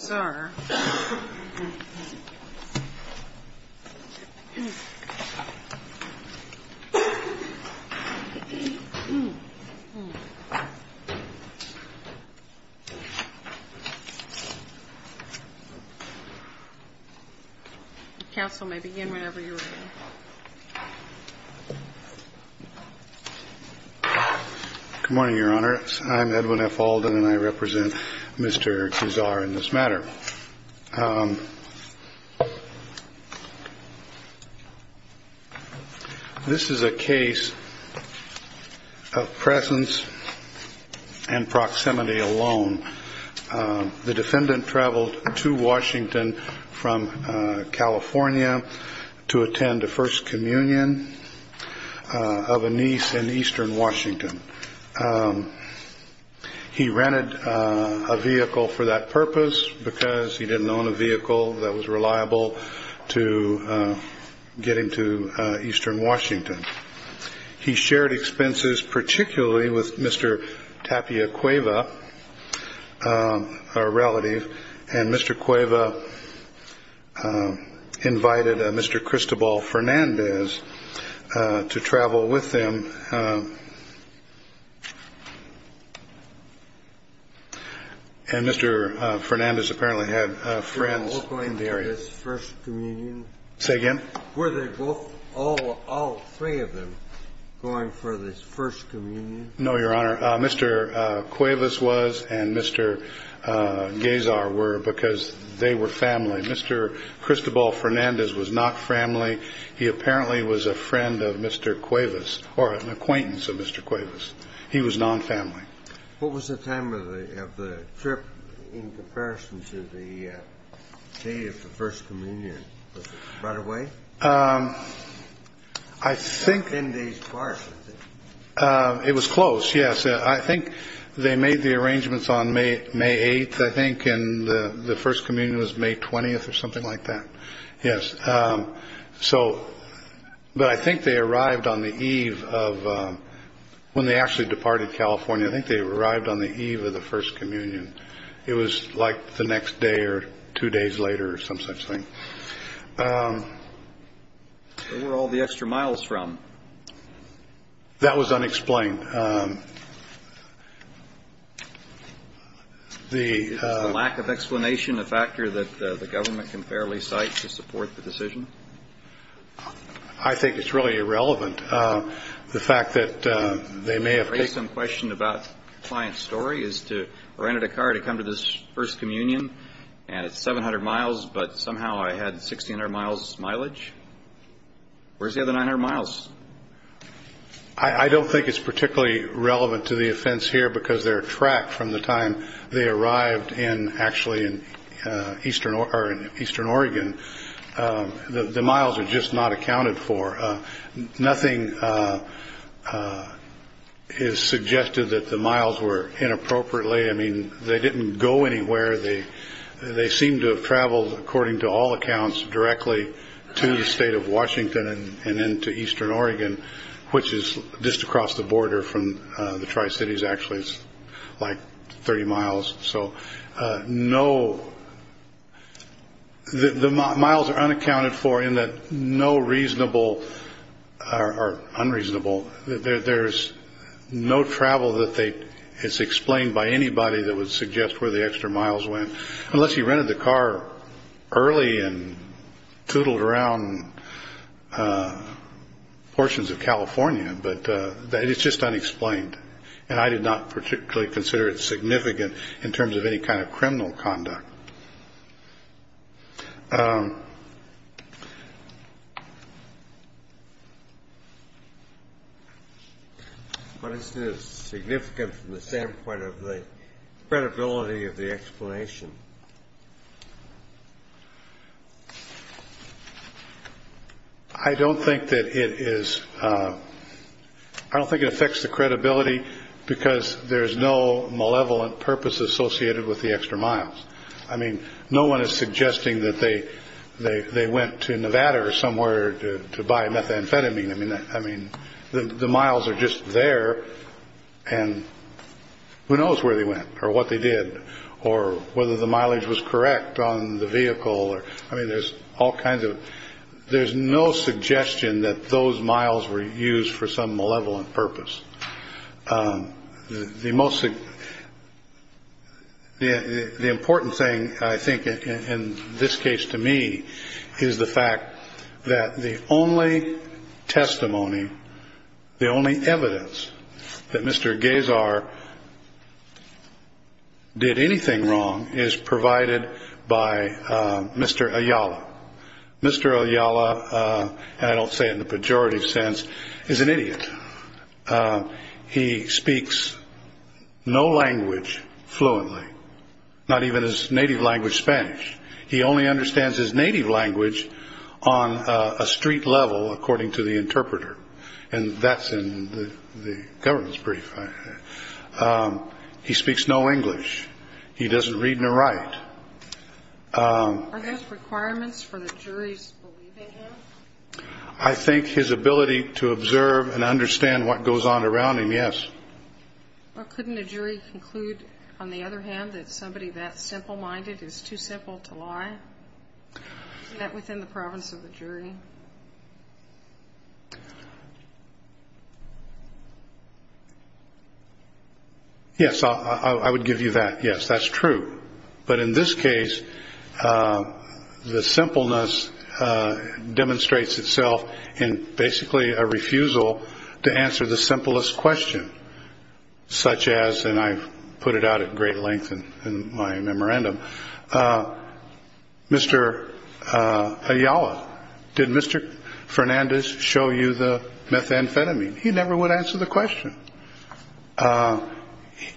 Good morning, Your Honor. I'm Edwin F. Alden, and I represent Mr. Guizar in this matter. This is a case of presence and proximity alone. The defendant traveled to Washington from California to attend a First Communion of a niece in eastern Washington. He rented a vehicle for that purpose because he didn't own a vehicle that was reliable to get him to eastern Washington. He shared expenses particularly with Mr. Tapia Cueva, a relative, and Mr. Cueva invited Mr. Cristobal Fernandez to travel with him. Mr. Fernandez apparently had friends in the area. Were all three of them going for this First Communion? No, Your Honor. Mr. Cuevas was and Mr. Guizar were because they were family. Mr. Cristobal Fernandez was not family. He apparently was a friend of Mr. Cuevas or an acquaintance of Mr. Cuevas. He was non-family. What was the time of the trip in comparison to the day of the First Communion? Was it right away? I think it was close. Yes, I think they made the arrangements on May 8th, I think, and the First Communion was May 20th or something like that. Yes. So but I think they arrived on the eve of when they actually departed California. I think they arrived on the eve of the First Communion. It was like the next day or two days later or some such thing. Where were all the extra miles from? That was unexplained. Is the lack of explanation a factor that the government can fairly cite to support the decision? I think it's really irrelevant. The fact that they may have paid some question about client story is to rent a car to come to this First Communion. And it's 700 miles. But somehow I had 1600 miles mileage. Where's the other 900 miles? I don't think it's particularly relevant to the offense here because they're tracked from the time they arrived. And actually in eastern eastern Oregon, the miles are just not accounted for. Nothing is suggested that the miles were inappropriately. I mean, they didn't go anywhere. They seem to have traveled, according to all accounts, directly to the state of Washington and into eastern Oregon, which is just across the border from the Tri-Cities. Actually, it's like 30 miles. So no, the miles are unaccounted for in that no reasonable or unreasonable. There's no travel that they it's explained by anybody that would suggest where the extra miles went, unless you rented the car early and tootled around portions of California. But it's just unexplained. And I did not particularly consider it significant in terms of any kind of criminal conduct. But it's significant from the standpoint of the credibility of the explanation. I don't think that it is. I don't think it affects the credibility because there is no malevolent purpose associated with the extra miles. I mean, no one is suggesting that they they they went to Nevada or somewhere to buy methamphetamine. I mean, I mean, the miles are just there. And who knows where they went or what they did or whether the mileage was correct on the vehicle. I mean, there's all kinds of there's no suggestion that those miles were used for some malevolent purpose. The most the important thing, I think, in this case to me is the fact that the only testimony, the only evidence that Mr. Gazar did anything wrong is provided by Mr. Ayala. Mr. Ayala, I don't say in the pejorative sense, is an idiot. He speaks no language fluently, not even his native language, Spanish. He only understands his native language on a street level, according to the interpreter. And that's in the government's brief. He speaks no English. He doesn't read nor write requirements for the jury's. I think his ability to observe and understand what goes on around him. Yes. Or couldn't a jury conclude, on the other hand, that somebody that simple minded is too simple to lie. That within the province of the jury. Yes, I would give you that. Yes, that's true. But in this case, the simpleness demonstrates itself in basically a refusal to answer the simplest question. Such as and I've put it out at great length in my memorandum. Mr. Ayala, did Mr. Fernandez show you the methamphetamine? He never would answer the question.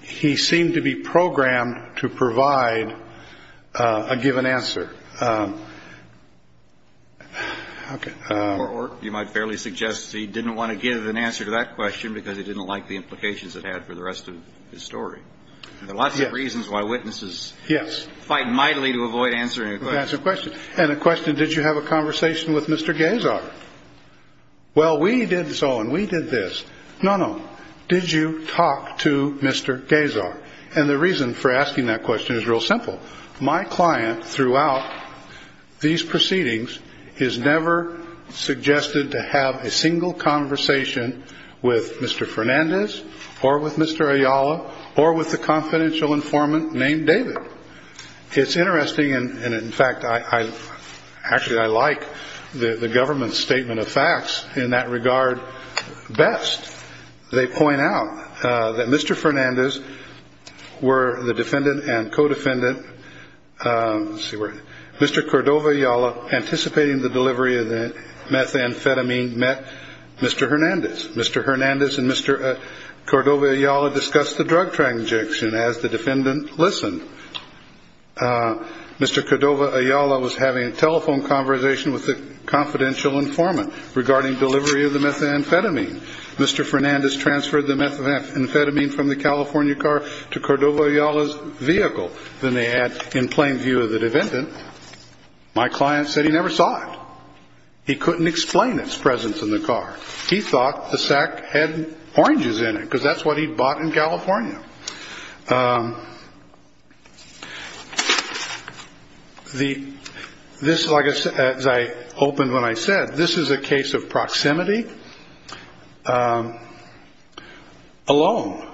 He seemed to be programmed to provide a given answer. OK, or you might fairly suggest he didn't want to give an answer to that question because he didn't like the implications it had for the rest of the story. There are lots of reasons why witnesses. Yes. Fight mightily to avoid answering. That's a question and a question. Did you have a conversation with Mr. Gazer? Well, we did so and we did this. No, no. Did you talk to Mr. Gazer? And the reason for asking that question is real simple. My client throughout these proceedings is never suggested to have a single conversation with Mr. Fernandez or with Mr. Ayala or with the confidential informant named David. It's interesting. And in fact, I actually I like the government's statement of facts in that regard. Best. They point out that Mr. Fernandez were the defendant and co-defendant. Mr. Cordova, y'all are anticipating the delivery of the methamphetamine. Mr. Hernandez, Mr. Hernandez and Mr. Cordova, y'all have discussed the drug transaction as the defendant listened. Mr. Cordova, Ayala was having a telephone conversation with the confidential informant regarding delivery of the methamphetamine. Mr. Fernandez transferred the methamphetamine from the California car to Cordova, Ayala's vehicle. Then they had in plain view of the defendant. My client said he never saw it. He couldn't explain its presence in the car. He thought the sack had oranges in it because that's what he bought in California. The this is like as I opened when I said this is a case of proximity alone.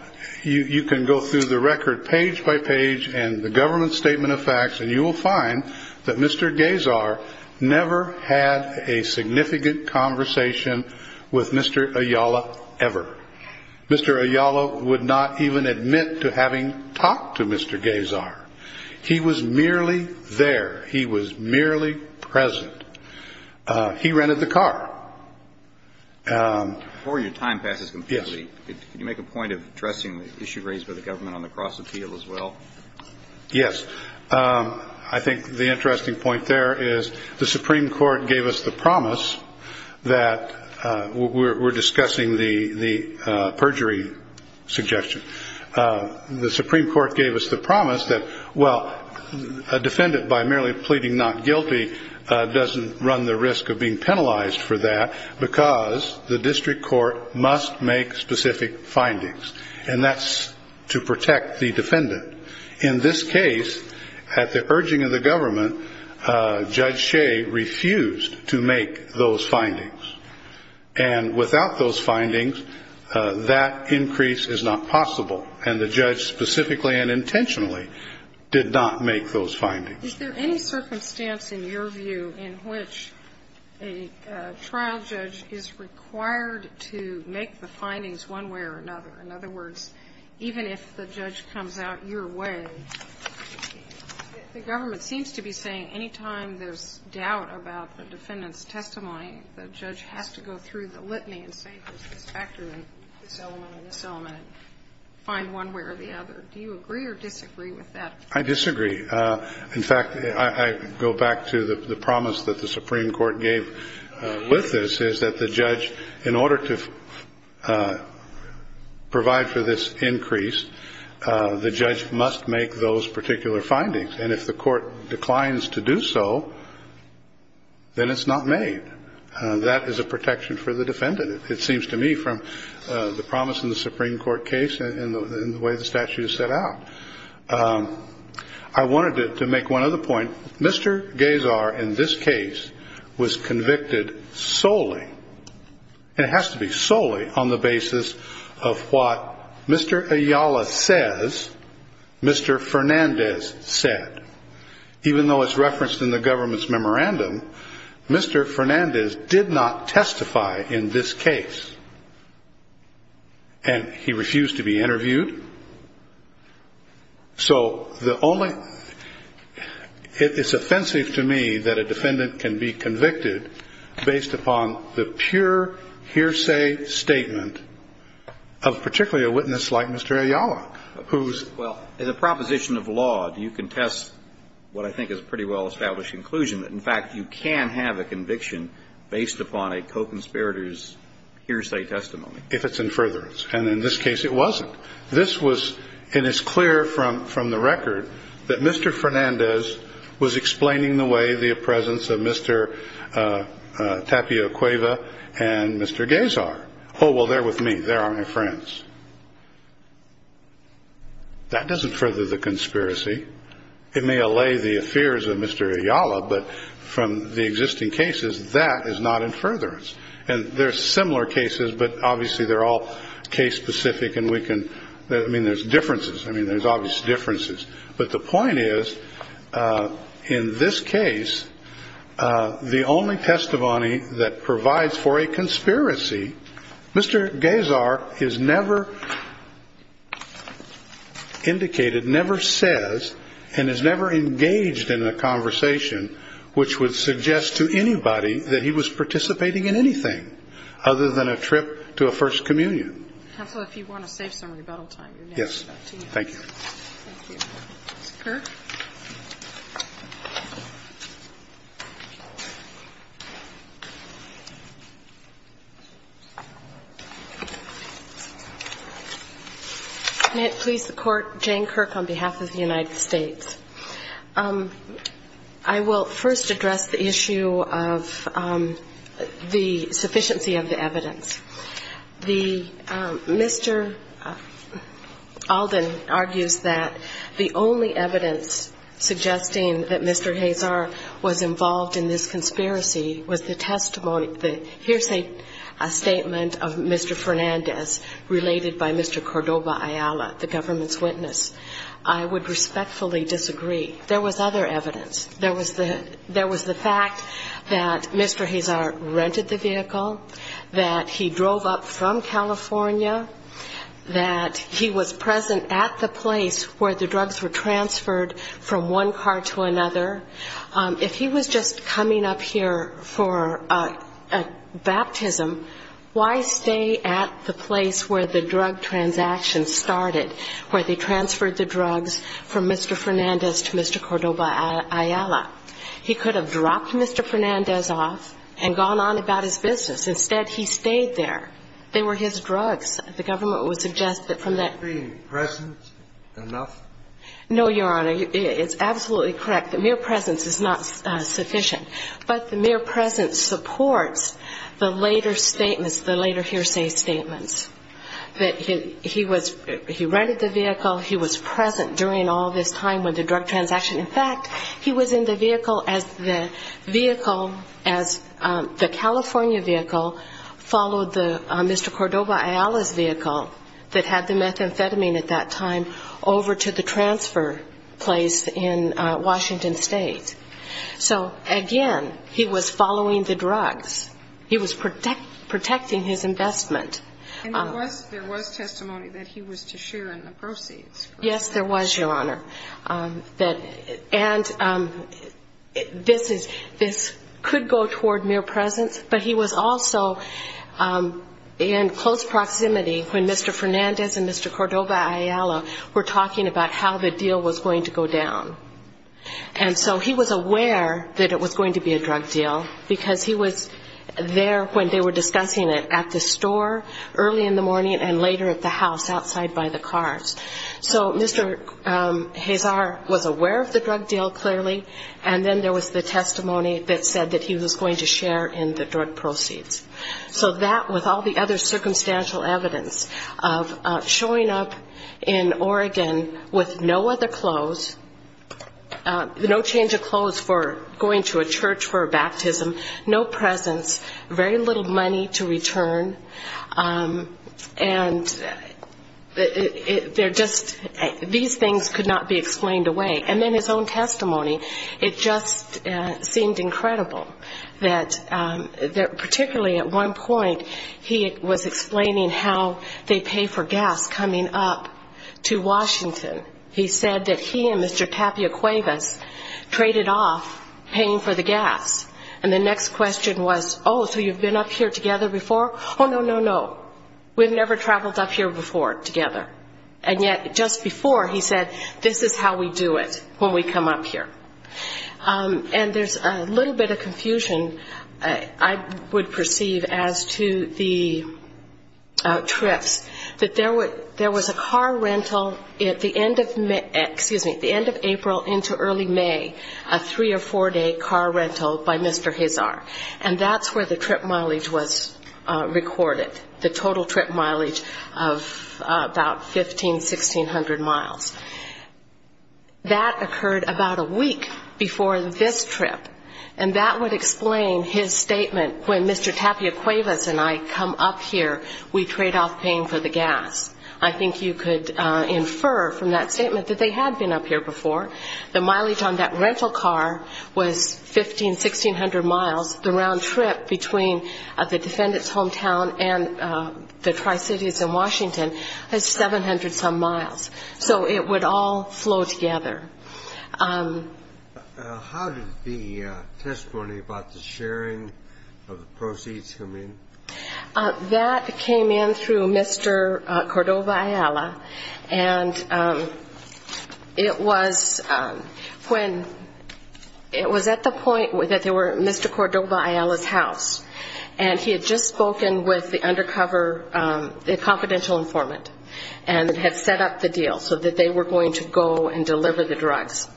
You can go through the record page by page and the government's statement of facts. And you will find that Mr. Gays are never had a significant conversation with Mr. Ayala ever. Mr. Ayala would not even admit to having talked to Mr. Gays are. He was merely there. He was merely present. He rented the car. Before your time passes, can you make a point of addressing the issue raised by the government on the cross appeal as well? Yes. I think the interesting point there is the Supreme Court gave us the promise that we're discussing the perjury suggestion. The Supreme Court gave us the promise that, well, a defendant by merely pleading not guilty doesn't run the risk of being penalized for that because the district court must make specific findings. And that's to protect the defendant. In this case, at the urging of the government, Judge Shea refused to make those findings. And without those findings, that increase is not possible. And the judge specifically and intentionally did not make those findings. Is there any circumstance in your view in which a trial judge is required to make the findings one way or another? In other words, even if the judge comes out your way, the government seems to be saying any time there's doubt about the defendant's testimony, the judge has to go through the litany and say there's this factor and this element and this element and find one way or the other. Do you agree or disagree with that? I disagree. In fact, I go back to the promise that the Supreme Court gave with this is that the judge, in order to provide for this increase, the judge must make those particular findings. And if the court declines to do so, then it's not made. That is a protection for the defendant, it seems to me, from the promise in the Supreme Court that you set out. I wanted to make one other point. Mr. Gazer, in this case, was convicted solely. It has to be solely on the basis of what Mr. Ayala says Mr. Fernandez said. Even though it's referenced in the government's memorandum, Mr. Fernandez did not testify in this case, and he refused to be interviewed. So the only – it's offensive to me that a defendant can be convicted based upon the pure hearsay statement of particularly a witness like Mr. Ayala, who's – Well, as a proposition of law, do you contest what I think is pretty well-established conclusion, that, in fact, you can have a conviction based upon a co-conspirator's hearsay testimony? If it's in furtherance. And in this case, it wasn't. This was – and it's clear from the record that Mr. Fernandez was explaining the way the presence of Mr. Tapio Cueva and Mr. Gazer. Oh, well, they're with me. They are my friends. That doesn't further the conspiracy. It may allay the fears of Mr. Ayala, but from the existing cases, that is not in furtherance. And there are similar cases, but obviously they're all case-specific, and we can – I mean, there's differences. I mean, there's obvious differences. But the point is, in this case, the only testimony that provides for a conspiracy, Mr. Gazer is never indicated, never says, and is never engaged in a conversation which would suggest to anybody that he was participating in anything other than a trip to a First Communion. Counsel, if you want to save some rebuttal time, you're next. Yes. Thank you. Thank you. Mr. Kirk. May it please the Court. Jane Kirk on behalf of the United States. I will first address the issue of the sufficiency of the evidence. The – Mr. Alden argues that the only evidence suggesting that Mr. Gazer was involved in this conspiracy was the testimony – here's a statement of Mr. Fernandez related by Mr. Cordoba Ayala, the government's witness. I would respectfully disagree. There was other evidence. There was the fact that Mr. Gazer rented the vehicle, that he drove up from California, that he was present at the place where the drugs were transferred from one car to another. If he was just coming up here for a baptism, why stay at the place where the drug transaction started, where they transferred the drugs from Mr. Fernandez to Mr. Cordoba Ayala? He could have dropped Mr. Fernandez off and gone on about his business. Instead, he stayed there. They were his drugs. The government would suggest that from that – Could he be present enough? No, Your Honor. It's absolutely correct. The mere presence is not sufficient. But the mere presence supports the later statements, the later hearsay statements, that he was – he rented the vehicle, he was present during all this time with the drug transaction. In fact, he was in the vehicle as the vehicle – as the California vehicle followed the – Mr. Cordoba Ayala's vehicle that had the methamphetamine at that time over to the transfer place in Washington State. So, again, he was following the drugs. He was protecting his investment. And there was testimony that he was to share in the proceeds. Yes, there was, Your Honor. And this is – this could go toward mere presence, but he was also in close proximity when Mr. Fernandez and Mr. Cordoba Ayala were talking about how the deal was going to go down. And so he was aware that it was going to be a drug deal because he was there when they were discussing it at the store early in the morning and later at the house outside by the cars. So Mr. Hazar was aware of the drug deal, clearly, and then there was the testimony that said that he was going to share in the drug proceeds. So that, with all the other circumstantial evidence of showing up in Oregon with no other clothes, no change of clothes for going to a church for a baptism, no presence, very little money to return, and they're just – these things could not be explained away. And then his own testimony, it just seemed incredible that – particularly at one point he was explaining how they pay for gas coming up to Washington. He said that he and Mr. Tapia Cuevas traded off paying for the gas. And the next question was, oh, so you've been up here together before? Oh, no, no, no. We've never traveled up here before together. And yet just before, he said, this is how we do it when we come up here. And there's a little bit of confusion, I would perceive, as to the trips, that there was a car rental at the end of – excuse me – at the end of April into early May, a three- or four-day car rental by Mr. Hazar. And that's where the trip mileage was recorded, the total trip mileage of about 1,500, 1,600 miles. That occurred about a week before this trip. And that would explain his statement, when Mr. Tapia Cuevas and I come up here, we trade off paying for the gas. I think you could infer from that statement that they had been up here before. The mileage on that rental car was 1,500, 1,600 miles. The round trip between the defendant's hometown and the Tri-Cities in Washington is 700-some miles. So it would all flow together. How did the testimony about the sharing of the proceeds come in? That came in through Mr. Cordova Ayala. And it was at the point that they were at Mr. Cordova Ayala's house, and he had just spoken with the undercover – the confidential informant, and had set up the deal so that they were going to go and deliver the drugs.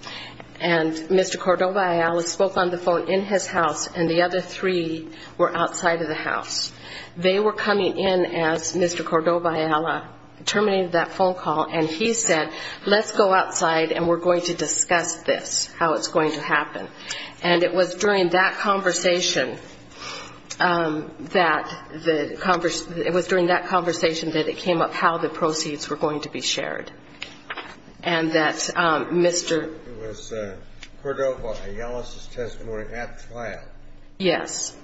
And Mr. Cordova Ayala spoke on the phone in his house, and the other three were outside of the house. They were coming in as Mr. Cordova Ayala terminated that phone call, and he said, let's go outside and we're going to discuss this, how it's going to happen. And it was during that conversation that it came up how the proceeds were going to be shared, and that Mr. It was Cordova Ayala's testimony at the trial. Yes,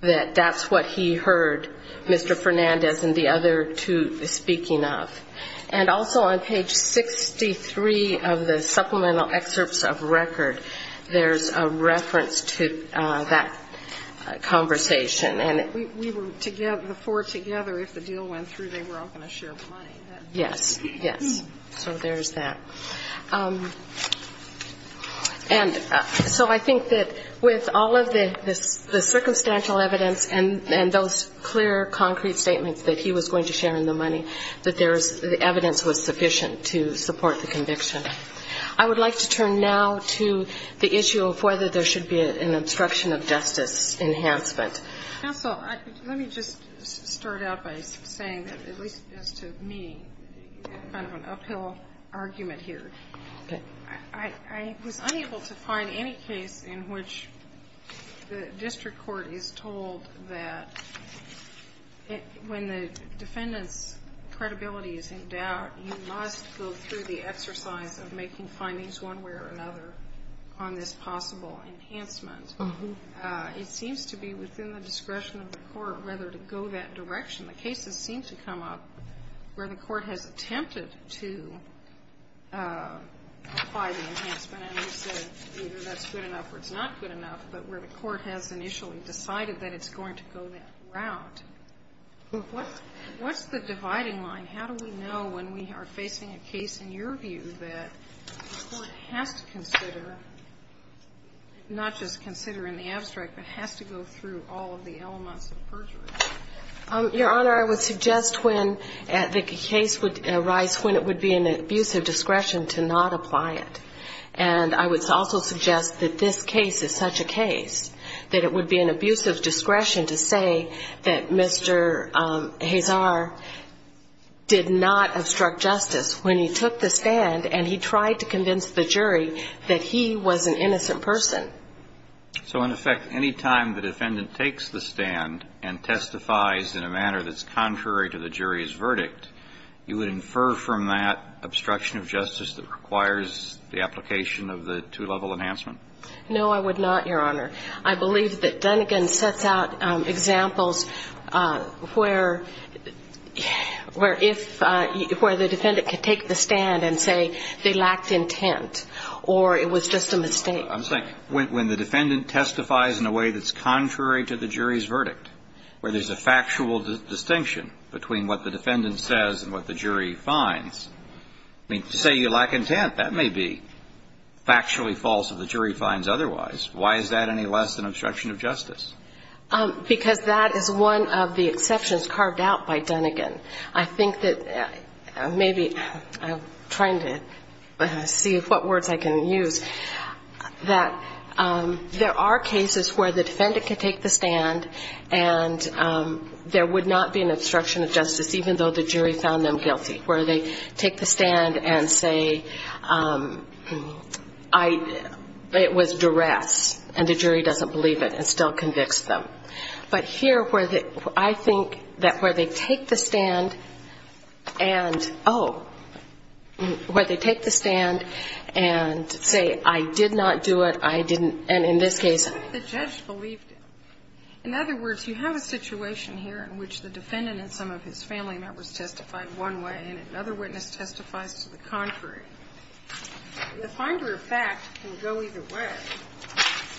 that that's what he heard Mr. Fernandez and the other two speaking of. And also on page 63 of the supplemental excerpts of record, there's a reference to that conversation. And we were together, the four together, if the deal went through, they were all going to share money. Yes, yes. So there's that. And so I think that with all of the circumstantial evidence and those clear, concrete statements that he was going to share in the money, that the evidence was sufficient to support the conviction. I would like to turn now to the issue of whether there should be an obstruction of justice enhancement. Counsel, let me just start out by saying that, at least as to me, kind of an uphill argument here. Okay. I was unable to find any case in which the district court is told that when the defendant's credibility is in doubt, you must go through the exercise of making findings one way or another on this possible enhancement. It seems to be within the discretion of the court whether to go that direction. The cases seem to come up where the court has attempted to apply the enhancement and has said either that's good enough or it's not good enough, but where the court has initially decided that it's going to go that route. What's the dividing line? How do we know when we are facing a case, in your view, that the court has to consider, not just consider in the abstract, but has to go through all of the elements of perjury? Your Honor, I would suggest when the case would arise when it would be an abuse of discretion to not apply it. And I would also suggest that this case is such a case that it would be an abuse of discretion to say that Mr. Hazar did not obstruct justice when he took the stand and he tried to convince the jury that he was an innocent person. So, in effect, any time the defendant takes the stand and testifies in a manner that's contrary to the jury's verdict, you would infer from that obstruction of justice that requires the application of the two-level enhancement? No, I would not, Your Honor. I believe that Dunigan sets out examples where the defendant could take the stand and say they lacked intent or it was just a mistake. I'm saying when the defendant testifies in a way that's contrary to the jury's verdict, where there's a factual distinction between what the defendant says and what the jury finds, I mean, to say you lack intent, that may be factually false if the jury finds otherwise. Why is that any less an obstruction of justice? Because that is one of the exceptions carved out by Dunigan. I think that maybe I'm trying to see what words I can use, that there are cases where the defendant can take the stand and there would not be an obstruction of justice even though the jury found them guilty, where they take the stand and say it was duress and the jury doesn't believe it and still convicts them. But here where I think that where they take the stand and, oh, where they take the stand and say I did not do it, I didn't, and in this case the judge believed it. In other words, you have a situation here in which the defendant and some of his family members testified one way and another witness testifies to the contrary. The finder of fact can go either way.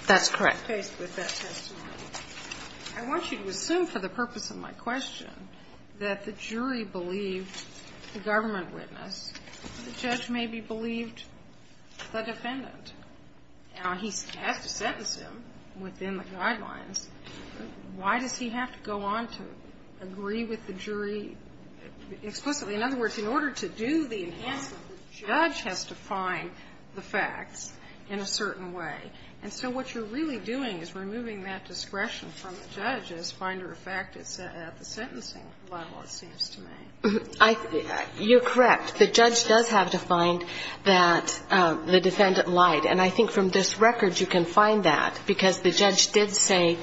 That's correct. I want you to assume for the purpose of my question that the jury believed the government witness. The judge maybe believed the defendant. Now, he has to sentence him within the guidelines. Why does he have to go on to agree with the jury explicitly? In other words, in order to do the enhancement, the judge has to find the facts in a certain way. And so what you're really doing is removing that discretion from the judge as finder of fact at the sentencing level, it seems to me. You're correct. The judge does have to find that the defendant lied. And I think from this record you can find that because the judge did say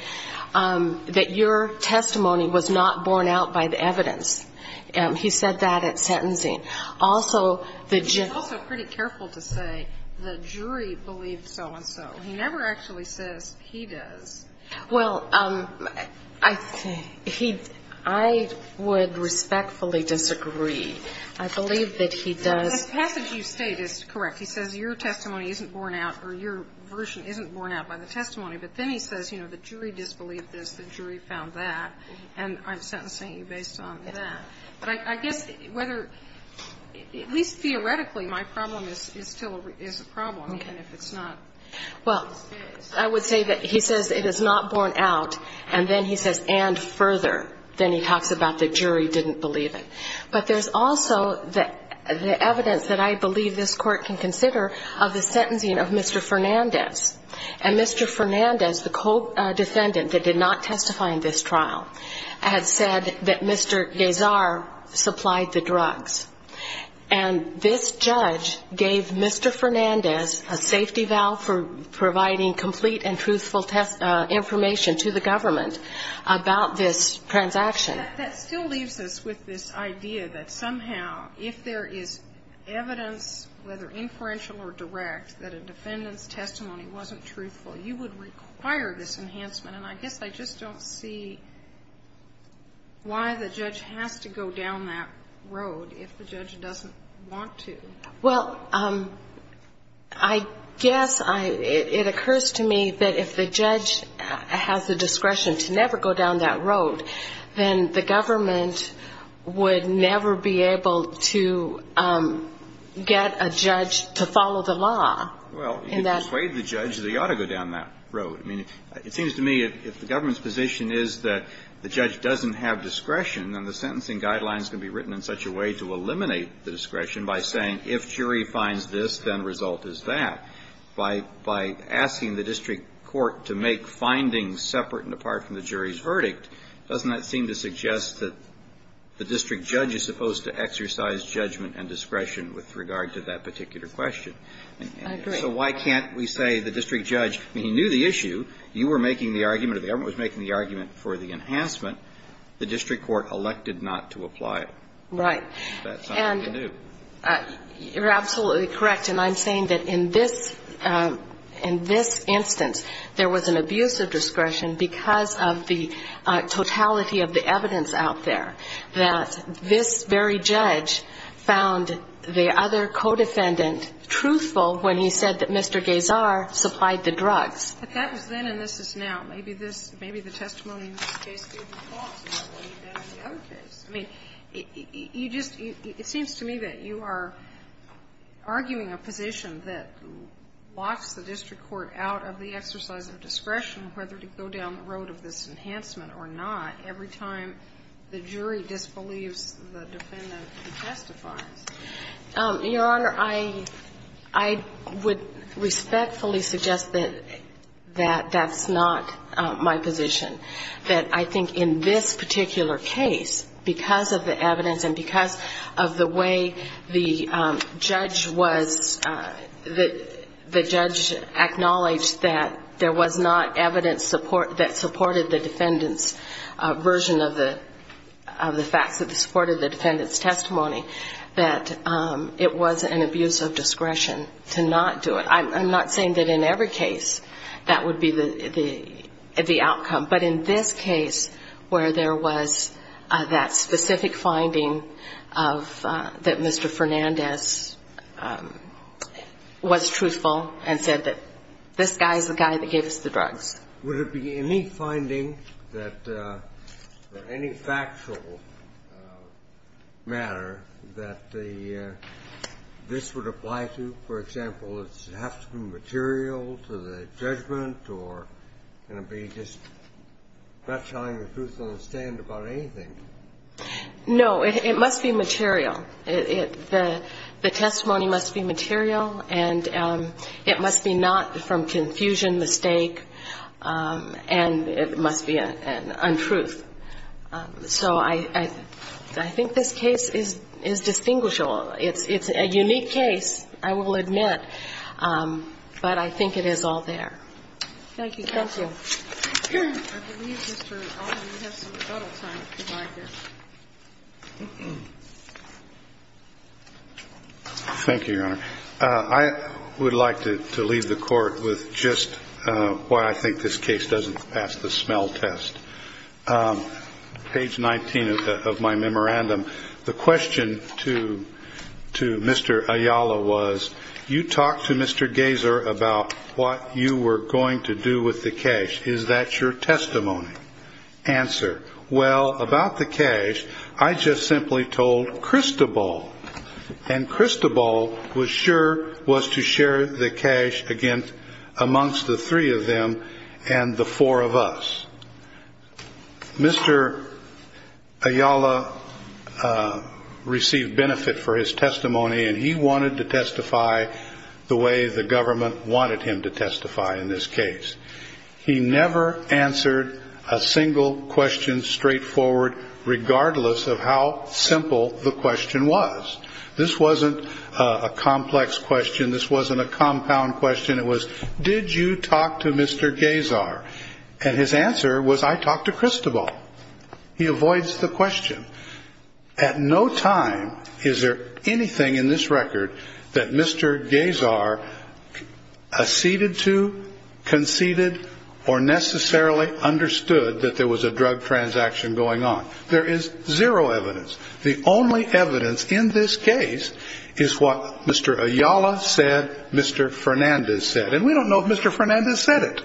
that your testimony was not borne out by the evidence. He said that at sentencing. And he's also pretty careful to say the jury believed so-and-so. He never actually says he does. Well, I would respectfully disagree. I believe that he does. The passage you state is correct. He says your testimony isn't borne out or your version isn't borne out by the testimony. But then he says, you know, the jury disbelieved this, the jury found that, and I'm sentencing you based on that. But I guess whether, at least theoretically, my problem is still a problem, even if it's not. Well, I would say that he says it is not borne out, and then he says and further. Then he talks about the jury didn't believe it. But there's also the evidence that I believe this Court can consider of the sentencing of Mr. Fernandez. And Mr. Fernandez, the co-defendant that did not testify in this trial, had said that Mr. Gazar supplied the drugs. And this judge gave Mr. Fernandez a safety valve for providing complete and truthful information to the government about this transaction. That still leaves us with this idea that somehow if there is evidence, whether inferential or direct, that a defendant's testimony wasn't truthful, you would require this enhancement. And I guess I just don't see why the judge has to go down that road if the judge doesn't want to. Well, I guess it occurs to me that if the judge has the discretion to never go down that road, then the government would never be able to get a judge to follow the law. Well, if you persuade the judge that he ought to go down that road. I mean, it seems to me if the government's position is that the judge doesn't have discretion, then the sentencing guidelines can be written in such a way to eliminate the discretion by saying if jury finds this, then result is that. By asking the district court to make findings separate and apart from the jury's verdict, doesn't that seem to suggest that the district judge is supposed to exercise judgment and discretion with regard to that particular question? I agree. So why can't we say the district judge, he knew the issue. You were making the argument or the government was making the argument for the enhancement. The district court elected not to apply it. Right. That's not what they do. You're absolutely correct. And I'm saying that in this instance, there was an abuse of discretion because of the totality of the evidence out there, that this very judge found the other co-defendant truthful when he said that Mr. Geysar supplied the drugs. But that was then and this is now. Maybe this — maybe the testimony in this case gave the thoughts about what he did in the other case. I mean, you just — it seems to me that you are arguing a position that locks the district court out of the exercise of discretion whether to go down the road of this enhancement or not every time the jury disbelieves the defendant who testifies. Your Honor, I would respectfully suggest that that's not my position. That I think in this particular case, because of the evidence and because of the way the judge was — this version of the facts that supported the defendant's testimony, that it was an abuse of discretion to not do it. I'm not saying that in every case that would be the outcome. But in this case where there was that specific finding that Mr. Fernandez was truthful and said that this guy is the guy that gave us the drugs. Would it be any finding that — or any factual matter that the — this would apply to? For example, does it have to be material to the judgment or can it be just not telling the truth on the stand about anything? No. It must be material. The testimony must be material and it must be not from confusion, mistake, and it must be an untruth. So I think this case is distinguishable. It's a unique case, I will admit, but I think it is all there. Thank you. Thank you. Thank you, Your Honor. I would like to leave the Court with just why I think this case doesn't pass the smell test. Page 19 of my memorandum, the question to Mr. Ayala was, you talked to Mr. Gazer about what you were going to do with the cash. Is that your testimony? Answer, well, about the cash, I just simply told Cristobal, and Cristobal was sure was to share the cash amongst the three of them and the four of us. Mr. Ayala received benefit for his testimony, and he wanted to testify the way the government wanted him to testify in this case. He never answered a single question straightforward, regardless of how simple the question was. This wasn't a complex question. This wasn't a compound question. It was, did you talk to Mr. Gazer? And his answer was, I talked to Cristobal. He avoids the question. At no time is there anything in this record that Mr. Gazer acceded to, conceded, or necessarily understood that there was a drug transaction going on. There is zero evidence. The only evidence in this case is what Mr. Ayala said Mr. Fernandez said, and we don't know if Mr. Fernandez said it.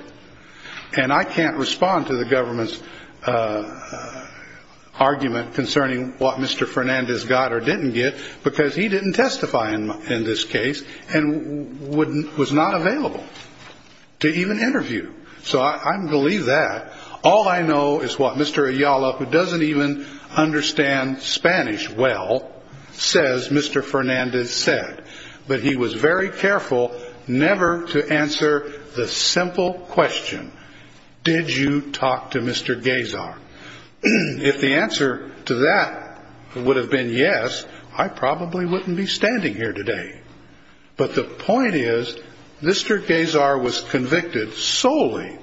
And I can't respond to the government's argument concerning what Mr. Fernandez got or didn't get, because he didn't testify in this case and was not available to even interview. So I'm going to leave that. All I know is what Mr. Ayala, who doesn't even understand Spanish well, says Mr. Fernandez said, but he was very careful never to answer the simple question, did you talk to Mr. Gazer? If the answer to that would have been yes, I probably wouldn't be standing here today. But the point is, Mr. Gazer was convicted solely,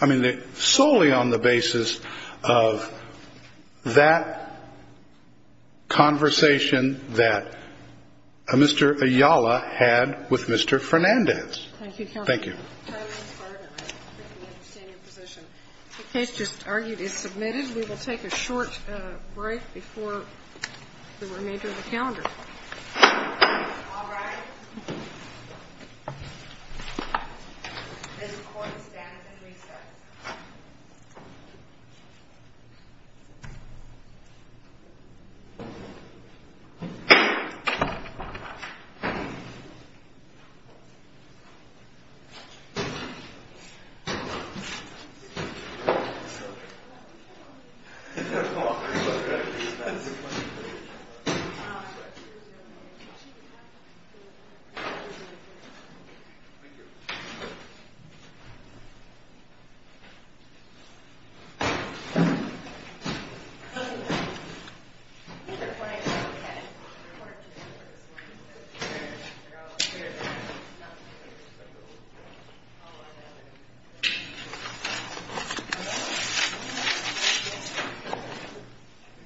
I mean, solely on the basis of that conversation that Mr. Ayala had with Mr. Fernandez. Thank you. Thank you. The case just argued is submitted. We will take a short break before the remainder of the calendar. All rise. This court stands at recess. Thank you.